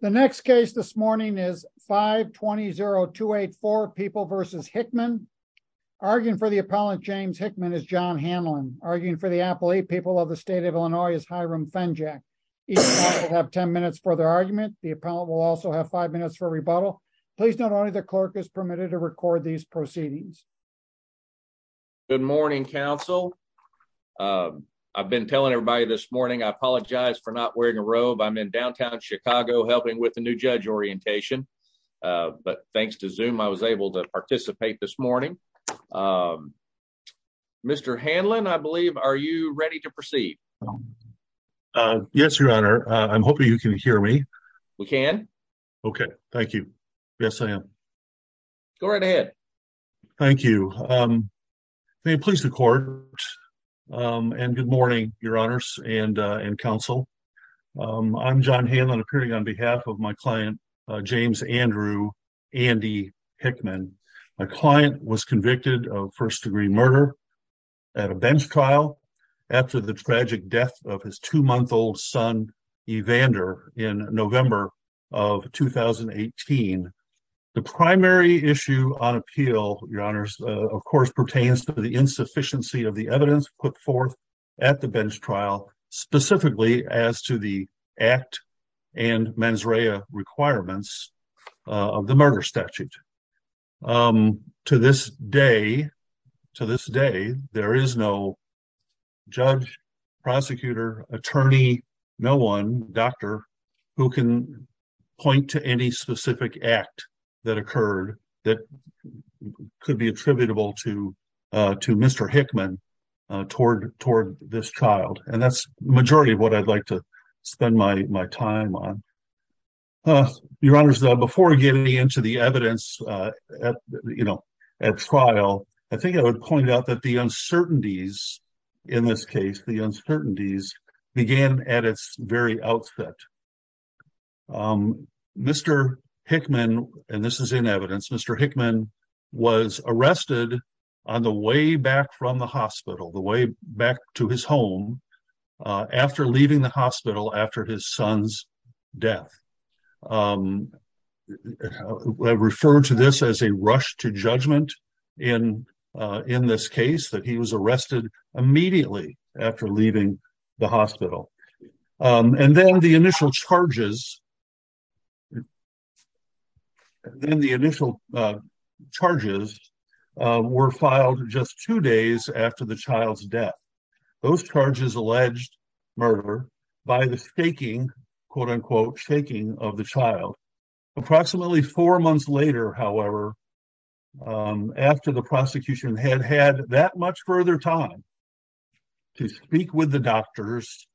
The next case this morning is 520 284 people versus Hickman arguing for the appellant. James Hickman is john Hamlin arguing for the apple. Eight people of the state of Illinois is Hiram Fenjack. You have 10 minutes for their argument. The appellant will also have five minutes for rebuttal. Please. Not only the clerk is permitted to record these proceedings. Good morning council. Uh I've been telling everybody this morning I apologize for not wearing a robe. I'm in downtown Chicago helping with the new judge orientation. Uh but thanks to zoom, I was able to participate this morning. Um Mr Hamlin, I believe. Are you ready to proceed? Uh yes, your honor. I'm hoping you can hear me. We can. Okay, thank you. Yes, I am. Go right ahead. Thank you. Um they please the court. Um and good morning, your honors and council. Um I'm john Hamlin appearing on behalf of my client James Andrew Andy Hickman. My client was convicted of first degree murder at a bench trial after the tragic death of his two month old son Evander in november of 2018. The primary issue on appeal your honors of course pertains to the insufficiency of the evidence put forth at the bench trial specifically as to the act and mens rea requirements of the murder statute. Um to this day to this day there is no judge, prosecutor, attorney, no one doctor who can point to any specific act that occurred that could be attributable to uh to Mr Hickman uh toward toward this child. And that's majority of what I'd like to spend my my time on. Uh your honors before getting into the evidence uh you know at trial, I think I would point out that the uncertainties in this case, the uncertainties began at its very outset. Um Mr Hickman and this is in evidence, Mr Hickman was arrested on the way back from the hospital, the way back to his home uh after leaving the hospital after his son's death. Um I refer to this as a rush to judgment in uh in this case that he was arrested immediately after leaving the hospital. Um and then the initial charges then the initial uh charges uh were filed just two days after the child's death. Those charges alleged murder by the staking quote unquote shaking of the child. Approximately four months later however um after the prosecution had had that much further time to speak with the doctors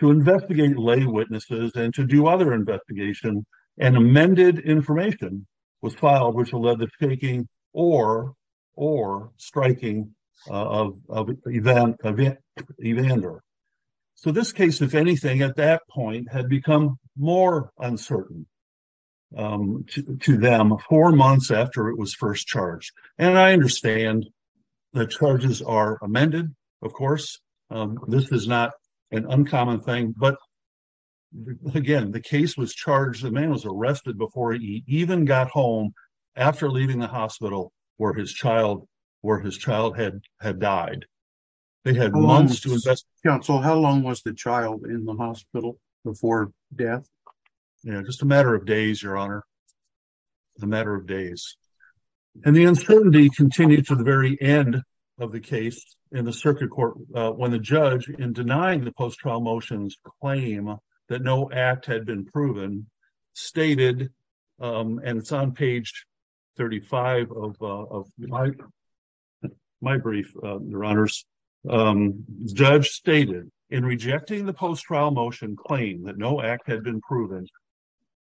to investigate lay witnesses and to do other investigation and amended information was filed which will lead to taking or or striking of event even under. So this case if anything at that point had become more uncertain um to them four months after it was first charged. And I understand the charges are amended of course. Um this is not an uncommon thing but again the case was charged. The man was arrested before he even got home after leaving the hospital where his child where his child had had died. They had months to invest council. How long was the child in the hospital before death? Just a matter of days. Your honor the matter of days and the uncertainty continued to the very end of the case in the circuit court when the judge in denying the post trial motions claim that no act had been proven stated um and it's on page 35 of my my brief your honors um judge stated in rejecting the post trial motion claim that no act had been proven.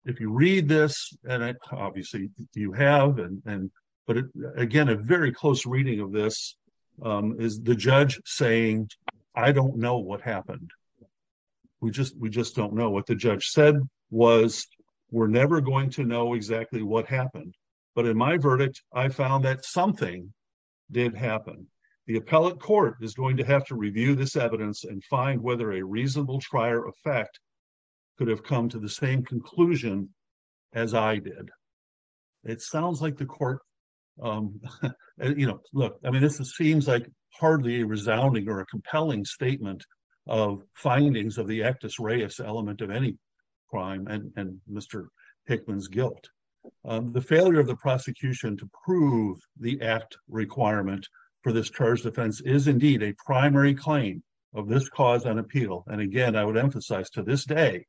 If you read this and obviously you have and but again a very close reading of this um is the judge saying I don't know what happened. We just we just don't know what the judge said was we're never going to know exactly what happened. But in my verdict I found that something did happen. The appellate court is going to have to review this evidence and find whether a to the same conclusion as I did. It sounds like the court um you know look I mean this seems like hardly resounding or a compelling statement of findings of the actus reius element of any crime and Mr Hickman's guilt. The failure of the prosecution to prove the act requirement for this charge defense is indeed a primary claim of this cause and appeal. And again I would emphasize to this day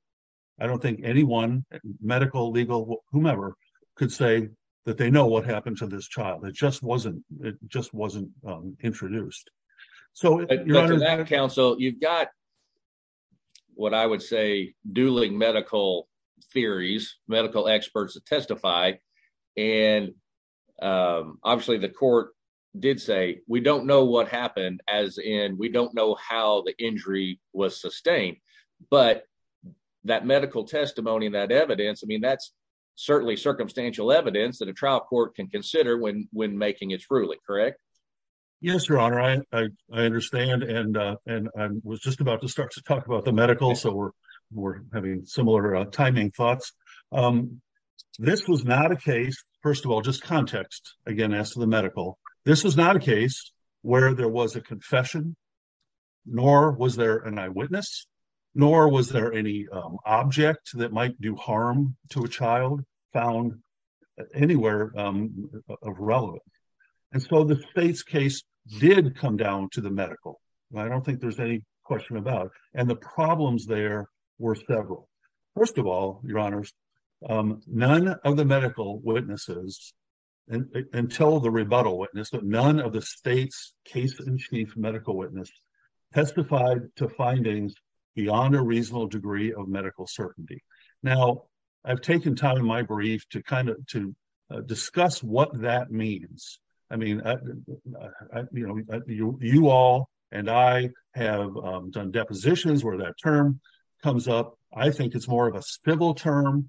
I don't think anyone medical, legal, whomever could say that they know what happened to this child. It just wasn't, it just wasn't introduced. So you're under that counsel, you've got what I would say dueling medical theories, medical experts that testified and um obviously the court did say we don't know what happened as and we don't know how the injury was sustained. But that medical testimony and that evidence, I mean that's certainly circumstantial evidence that a trial court can consider when when making its ruling. Correct. Yes, your honor. I understand and uh and I was just about to start to talk about the medical. So we're we're having similar timing thoughts. Um this was not a case first of all just context again as to the medical. This was not a case where there was a confession nor was there an eyewitness nor was there any object that might do harm to a child found anywhere of relevant. And so the state's case did come down to the medical. I don't think there's any question about and the problems there were several. First of all your honors um none of the medical witness testified to findings beyond a reasonable degree of medical certainty. Now I've taken time in my brief to kind of to discuss what that means. I mean you know you all and I have done depositions where that term comes up. I think it's more of a civil term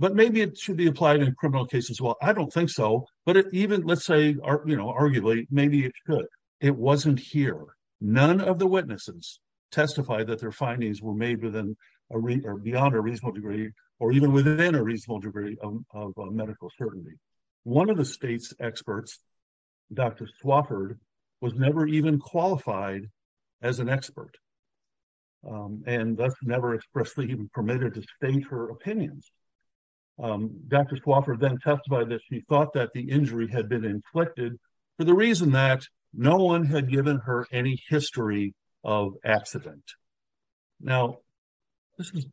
but maybe it should be applied in criminal cases. Well I don't think so but even let's say arguably maybe it it wasn't here. None of the witnesses testified that their findings were made within a re or beyond a reasonable degree or even within a reasonable degree of medical certainty. One of the state's experts dr Swofford was never even qualified as an expert. Um and that's never expressly even permitted to state her opinions. Um dr Swofford then testified that she thought that the injury had been inflicted for the reason that no one had given her any history of accident. Now this is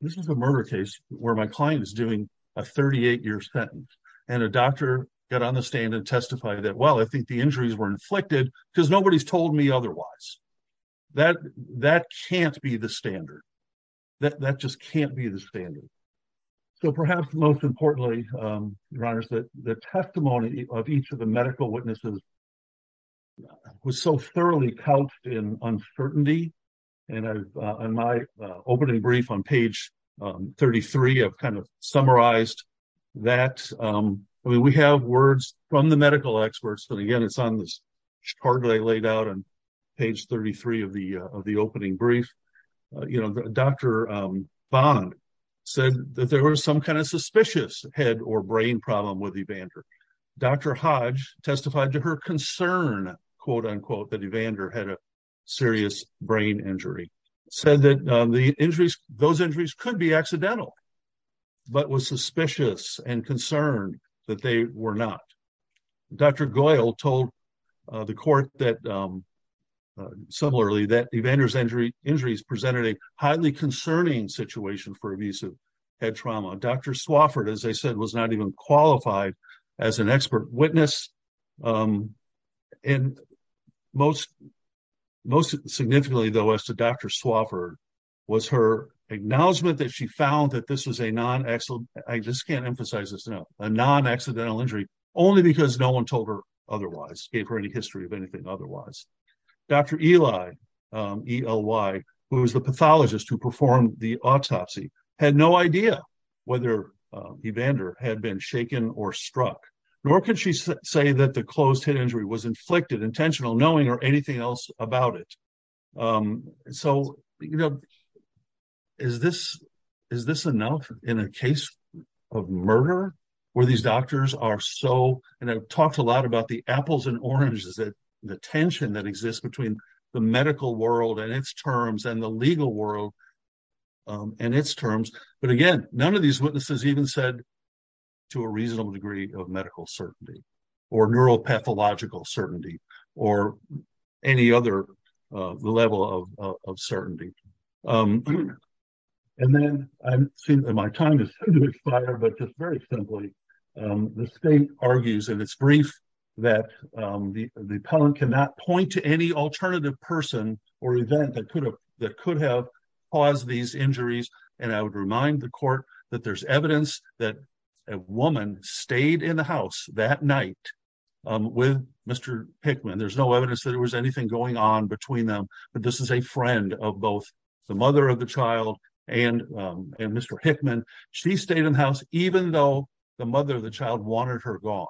this is a murder case where my client is doing a 38 year sentence and a doctor got on the stand and testify that well I think the injuries were inflicted because nobody's told me otherwise that that can't be the standard that that just can't be the standard. So perhaps most importantly um your honors that the testimony of each of the medical witnesses was so thoroughly couched in uncertainty. And uh in my opening brief on page um 33 I've kind of summarized that um I mean we have words from the medical experts and again it's on this card I laid out on page 33 of the of the opening brief. You know dr um bond said that there was some kind of suspicious head or brain problem with Evander. Dr. Hodge testified to her concern quote unquote that Evander had a serious brain injury said that the injuries those injuries could be accidental but was suspicious and concerned that they were not. Dr. Goyle told the court that um similarly that Evander's injury injuries presented a highly concerning situation for abusive head trauma. Dr. Swofford as I said was not even qualified as an expert witness. Um and most most significantly though as to Dr. Swofford was her acknowledgement that she found that this was a non excellent I just can't emphasize this now a non accidental injury only because no one told her otherwise gave her any history of anything otherwise. Dr. Eli um Ely who was the pathologist who performed the autopsy had no idea whether Evander had been shaken or struck nor could she say that the closed head injury was inflicted intentional knowing or anything else about it. Um so you know is this is this enough in a case of murder where these doctors are so and I've talked a lot about the apples and oranges that the tension that exists between the medical world and its terms and the legal world um and its terms. But again none of these witnesses even said to a reasonable degree of medical certainty or neuropathological certainty or any other uh level of of certainty. Um and then I'm seeing that my time is going to expire but just very simply um the state argues and it's brief that um the the appellant cannot point to any alternative person or event that could have that could have caused these injuries. And I would remind the court that there's evidence that a woman stayed in the house that night um with Mr Pickman. There's no evidence that there was anything going on between them. But this is a friend of both the mother of the child and um Mr Hickman. She stayed in the house even though the mother of the child wanted her gone.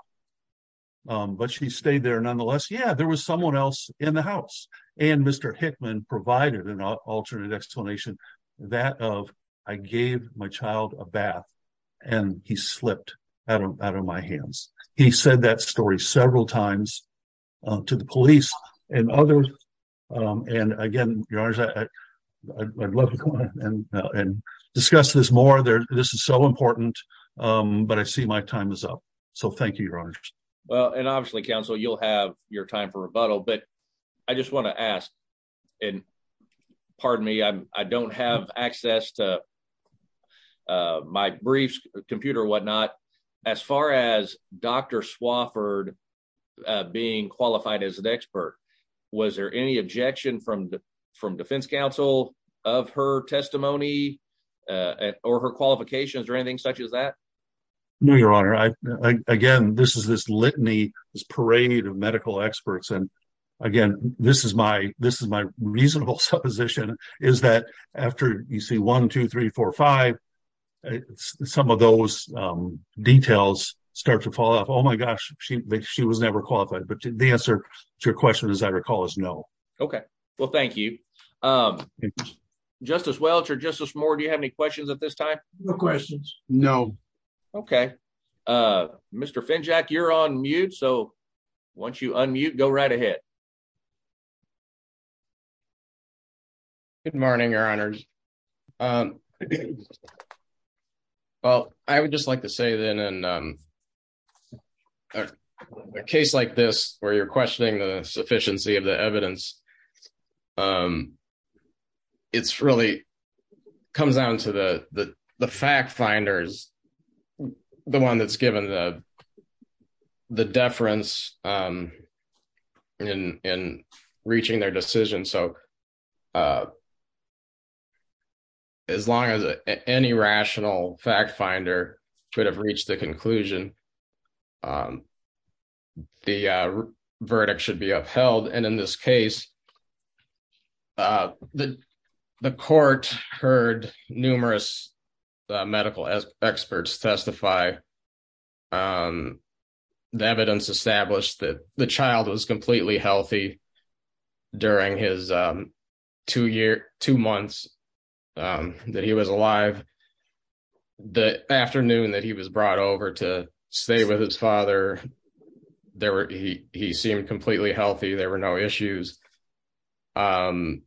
Um but she stayed there nonetheless. Yeah there was someone else in the house and Mr Hickman provided an alternate explanation that of I gave my child a bath and he slipped out of out of my hands. He said that story several times to the police and others. Um and again your honor, I'd love to come on and discuss this more. This is so important. Um but I see my time is up. So thank you your honor. Well and obviously counsel you'll have your time for rebuttal. But I just want to ask and pardon me. I don't have access to uh my briefs computer whatnot. As far as dr Swofford being qualified as an expert. Was there any objection from from defense counsel of her testimony uh or her qualifications or anything such as that? No your honor. I again this is this litany parade of medical experts. And again this is my this is my reasonable supposition is that after you see 1-2-3-4-5 some of those um details start to fall off. Oh my gosh she she was never qualified. But the answer to your question is I recall is no. Okay well thank you. Um justice Welch or justice more. Do you have any questions at this time? No questions. No. Okay. Uh Mr Finjack you're on mute. So once you unmute go right ahead. Good morning your honors. Um well I would just like to say then and um a case like this where you're questioning the sufficiency of the evidence. Um it's really comes down to the the fact finders. The one that's given the the deference um in in reaching their decision. So uh as long as any rational fact finder could have reached the conclusion um the verdict should be the the court heard numerous medical experts testify. Um the evidence established that the child was completely healthy during his um two year two months um that he was alive. The afternoon that he was brought over to stay with his father there were he he seemed completely healthy. There were no issues. Um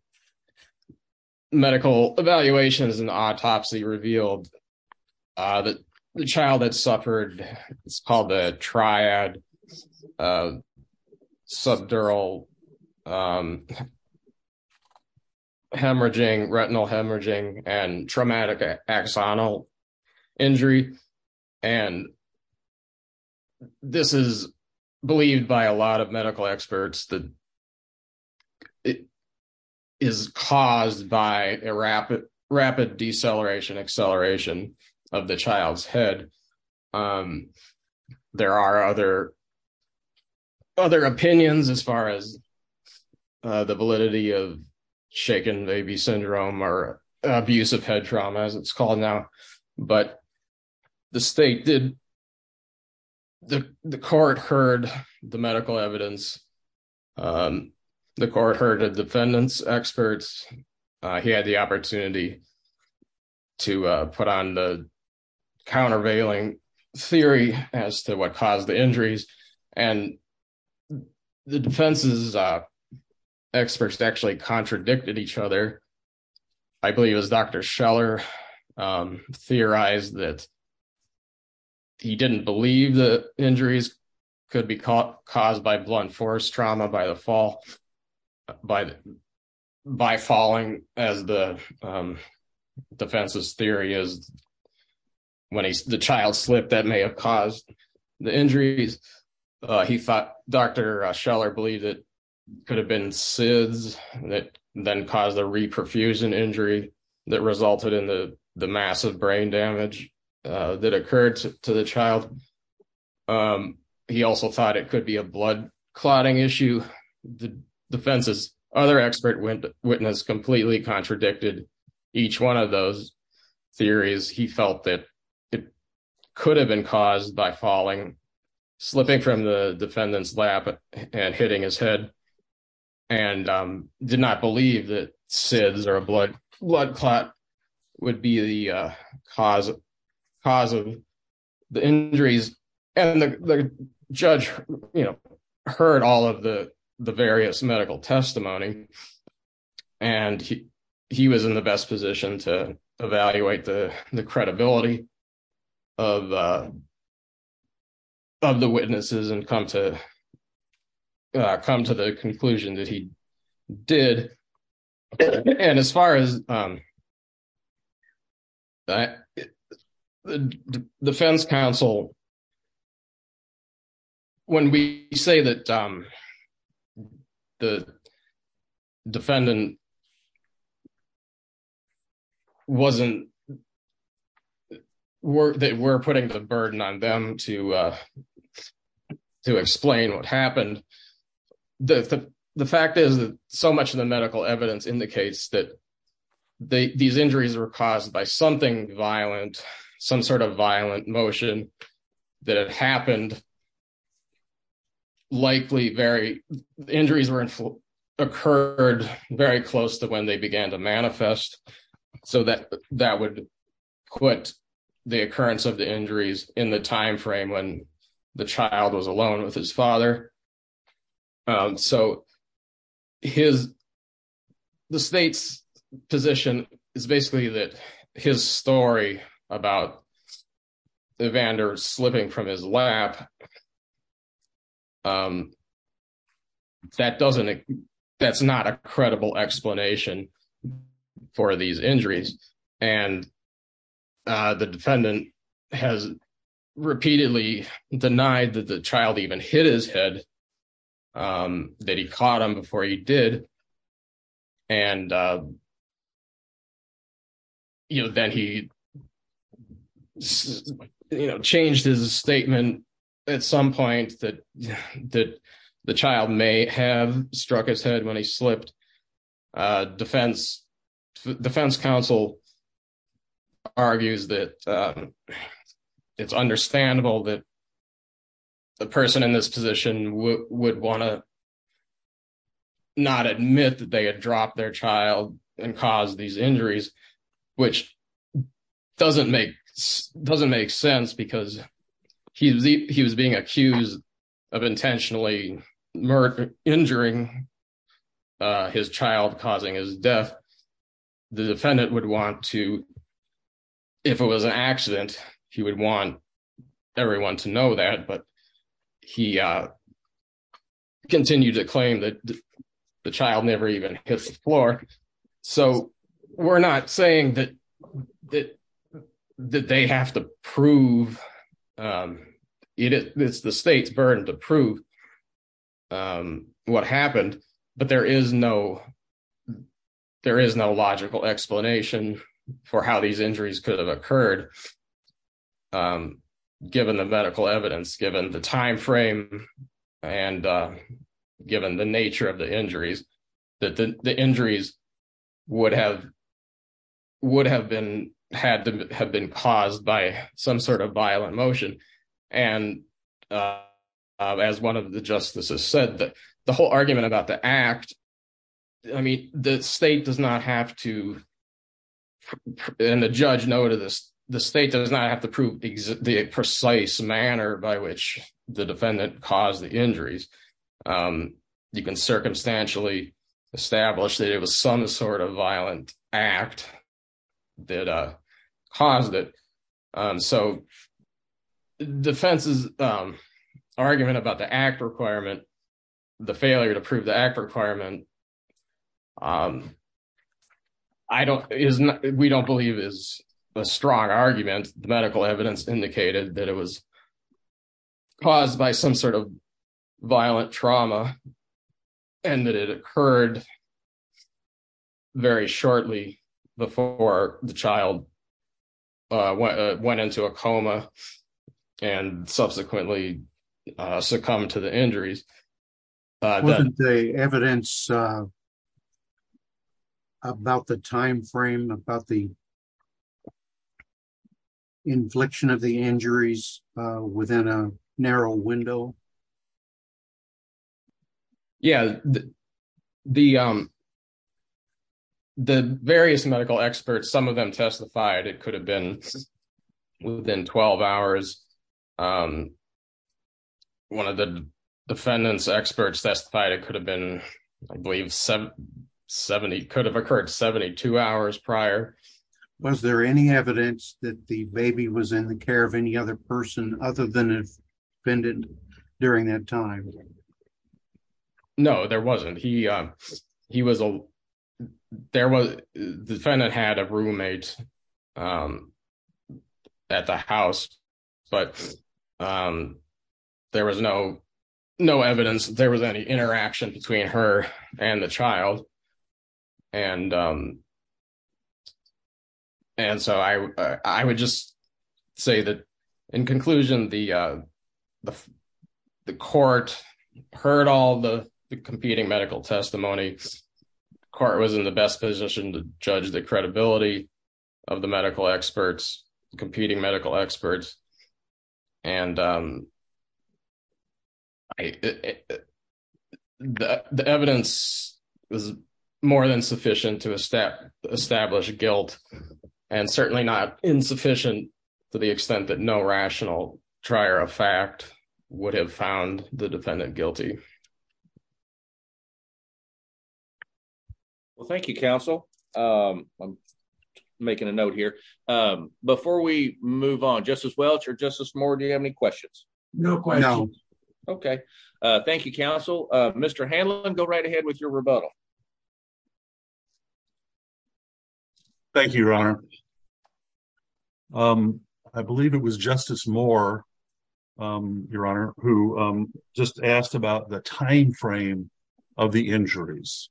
medical evaluations and autopsy revealed uh that the child that suffered it's called the triad uh subdural um hemorrhaging retinal hemorrhaging and traumatic axonal injury. And this is believed by a lot of medical experts that it is caused by a rapid rapid deceleration acceleration of the child's head. Um there are other other opinions as far as uh the validity of shaken baby syndrome or abusive head trauma as it's all now. But the state did the court heard the medical evidence. Um the court heard the defendants experts. Uh he had the opportunity to put on the countervailing theory as to what caused the injuries and the defenses uh actually contradicted each other. I believe it was dr Scheller um theorized that he didn't believe the injuries could be caught caused by blunt force trauma by the fall by by falling as the um defenses theory is when the child slipped that may have caused the injuries. Uh he thought dr Scheller believed it could have been SIDS that then caused the reperfusion injury that resulted in the massive brain damage uh that occurred to the child. Um he also thought it could be a blood clotting issue. The defense's other expert witness completely contradicted each one of those theories. He felt that it hitting his head and um did not believe that SIDS or a blood blood clot would be the cause cause of the injuries. And the judge you know heard all of the the various medical testimony and he was in the best position to evaluate the credibility of uh of the witnesses and come to uh come to the conclusion that he did. And as far as um that defense counsel when we say that um the defendant wasn't that we're putting the burden on them to uh to explain what happened. The fact is that so much of the medical evidence indicates that these injuries were caused by something violent, some sort of violent motion that had happened likely very injuries occurred very close to when they began to manifest so that that would quit the occurrence of the injuries in the time frame when the child was alone with his father. Um so his the state's position is basically that his story about Evander slipping from his lap um that doesn't that's not a credible explanation for these injuries. And uh the defendant has repeatedly denied that the child even hit his head um that he caught him before he did. And uh you know then he changed his statement at some point that that the child may have struck his head when he slipped uh defense defense counsel argues that um it's understandable that the person in this position would want to not admit that they had dropped their child and caused these injuries which doesn't make doesn't make sense because he he was being accused of intentionally murder injuring uh his child causing his death. The defendant would want to if it was an accident he would want everyone to know that but he uh continue to claim that the child never even hits the floor. So we're not saying that that that they have to prove um it's the state's burden to prove um what happened but there is no there is no logical explanation for how these injuries could have occurred. Um given the medical evidence given the time frame and uh given the nature of the injuries that the injuries would have would have been had to have been caused by some sort of violent motion. And uh as one of the justices said that the whole argument about the act, I mean the state does not have to and the judge noted this, the state does not have to prove the precise manner by which the defendant caused the injuries. Um you can circumstantially establish that it was some sort of violent act that uh caused it. Um so defense's um argument about the act requirement, the failure to prove the act requirement. Um I don't, we don't believe is a strong argument. The medical evidence indicated that it was caused by some sort of violent trauma and that it occurred very shortly before the child went into a coma and subsequently succumbed to the injuries. Uh the evidence uh about the time frame about the infliction of the injuries uh within a narrow window. Yeah. The um the various medical experts, some of them testified it could have been within 12 hours. Um one of the defendants experts testified it could have been I believe 70 could have occurred 72 hours prior. Was there any evidence that the baby was in the care of any other person other than if offended during that time? No, there wasn't. He uh he was a there was the defendant had a roommate um at the house but um there was no no evidence that there was any interaction between her and the child. And um and so I would just say that in conclusion the uh the court heard all the competing medical testimony. Court was in the best position to judge the credibility of the medical experts competing medical experts. And um I the evidence is more than sufficient to establish guilt and certainly not insufficient to the extent that no rational trier of fact would have found the defendant guilty. Yeah. Well thank you counsel. Um I'm making a note here um before we move on justice Welch or justice more. Do you have any questions? No question. Okay. Uh thank you counsel. Uh Mr Hanlon go right ahead with your rebuttal. Thank you your honor. Um I believe it was justice more um your honor who um just asked about the time frame of the injuries.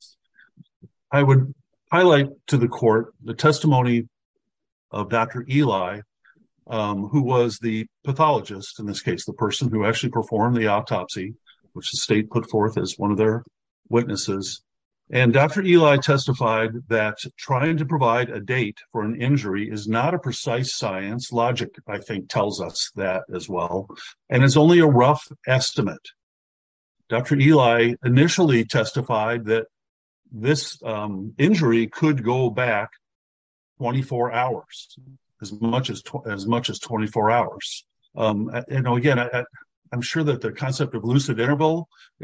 I would highlight to the court the testimony of dr Eli um who was the pathologist in this case the person who actually performed the autopsy which the state put forth as one of their witnesses. And dr Eli testified that trying to provide a date for an injury is not a precise science logic I think tells us that as well. And it's only a rough estimate. Dr Eli initially testified that this um injury could go back 24 hours as much as as much as 24 hours. Um you know again I'm sure that the concept of lucid interval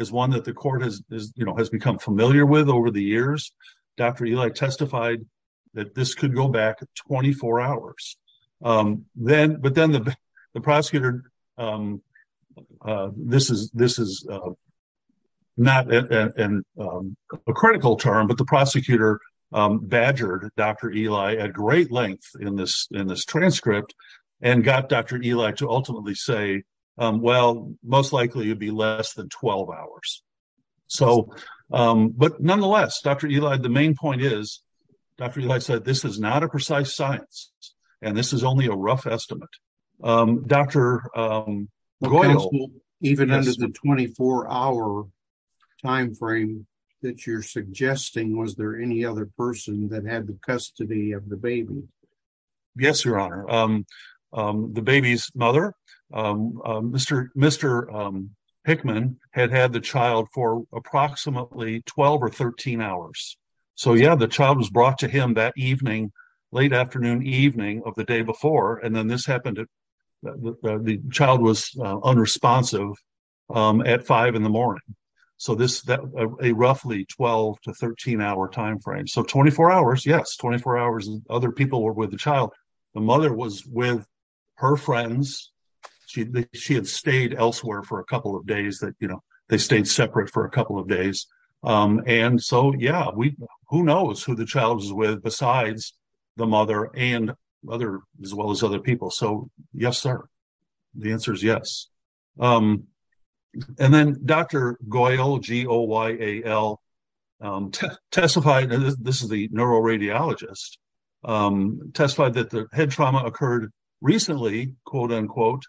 is one that the court has you know has become familiar with over the years. Dr Eli testified that this could go back 24 hours. Um then but then the prosecutor um uh this is this is uh not a critical term but the prosecutor um badgered dr Eli at great length in this in this transcript and got dr Eli to ultimately say um well most likely it would be less than 12 hours. So um but nonetheless dr Eli the main point is dr Eli said this is not a precise science and this is only a rough estimate. Um dr um even under the 24 hour time frame that you're suggesting was there any other person that had the custody of the baby? Yes your honor. Um um the baby's mother um Mr mr um Hickman had had the child for approximately 12 or 13 hours. So yeah the child was brought to him that evening late afternoon evening of the day before. And then this happened that the child was unresponsive um at five in the morning. So this that a roughly 12 to 13 hour time frame. So 24 hours. Yes, 24 hours. Other people were with the child. The mother was with her friends. She had stayed elsewhere for a couple of days that you know they stayed separate for a couple of days. Um and so yeah, we who knows who the child is with besides the mother and other as well as other people. So yes sir, the answer is yes. Um and then dr Goyal G. O. Y. A. L. Um testified this is the neuroradiologist um testified that the head trauma occurred recently quote unquote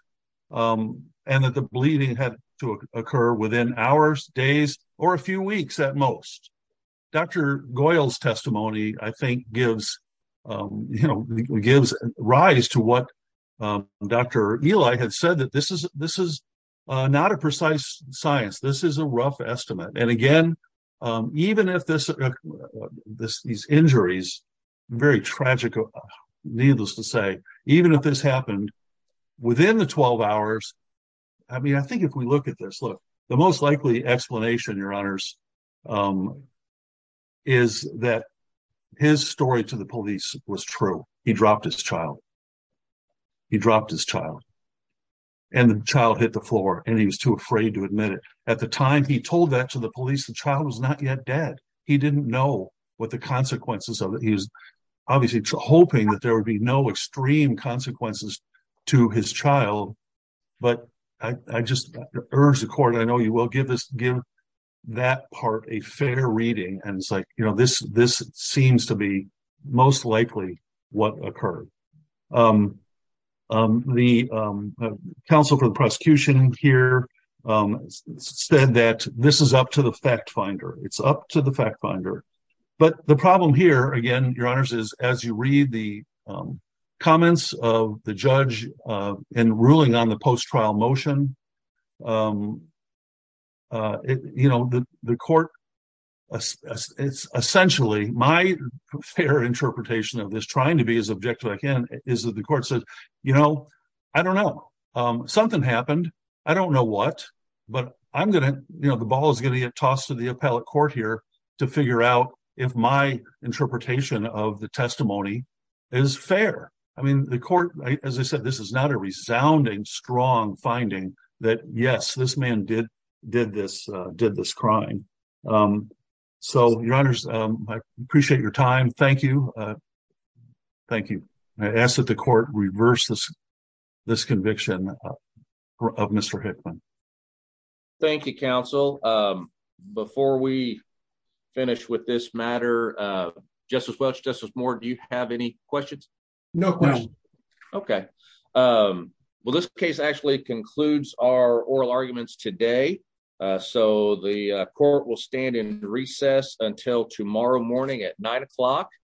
um and that the bleeding had to occur within hours, days or a few weeks at most. Dr Goyal's testimony I think gives um you know gives rise to what um dr Eli had said that this is this is uh not a precise science. This is a rough estimate. And again um even if this uh this these injuries very tragic, needless to say, even if this happened within the 12 hours, I mean I think if we look at this, look the most likely explanation your honors um is that his story to the police was true. He dropped his child, he dropped his and the child hit the floor and he was too afraid to admit it. At the time he told that to the police, the child was not yet dead. He didn't know what the consequences of it. He was obviously hoping that there would be no extreme consequences to his child. But I just urge the court, I know you will give this, give that part a fair reading. And it's like, you know, this, this seems to be most likely what occurred. Um, um, the, um, counsel for the prosecution here, um, said that this is up to the fact finder. It's up to the fact finder. But the problem here again, your honors, is as you read the comments of the judge, uh, and ruling on the post trial motion, um, uh, you know, the court, it's essentially my fair interpretation of this trying to be as objective again is that the court said, you know, I don't know. Um, something happened. I don't know what, but I'm going to, you know, the ball is going to get tossed to the appellate court here to figure out if my interpretation of the testimony is fair. I mean, the court, as I said, this is not a resounding, strong finding that yes, this man did, did this, did this crime. Um, so your honors, um, I appreciate your time. Thank you. Uh, thank you. I asked that the court reverse this, this conviction of mr Hickman. Thank you counsel. Um, before we finish with this matter, uh, justice Welch justice more. Do you have any questions? No. Okay. Um, well, this case actually concludes our oral arguments today. Uh, so the court will stand in recess until tomorrow morning at nine o'clock.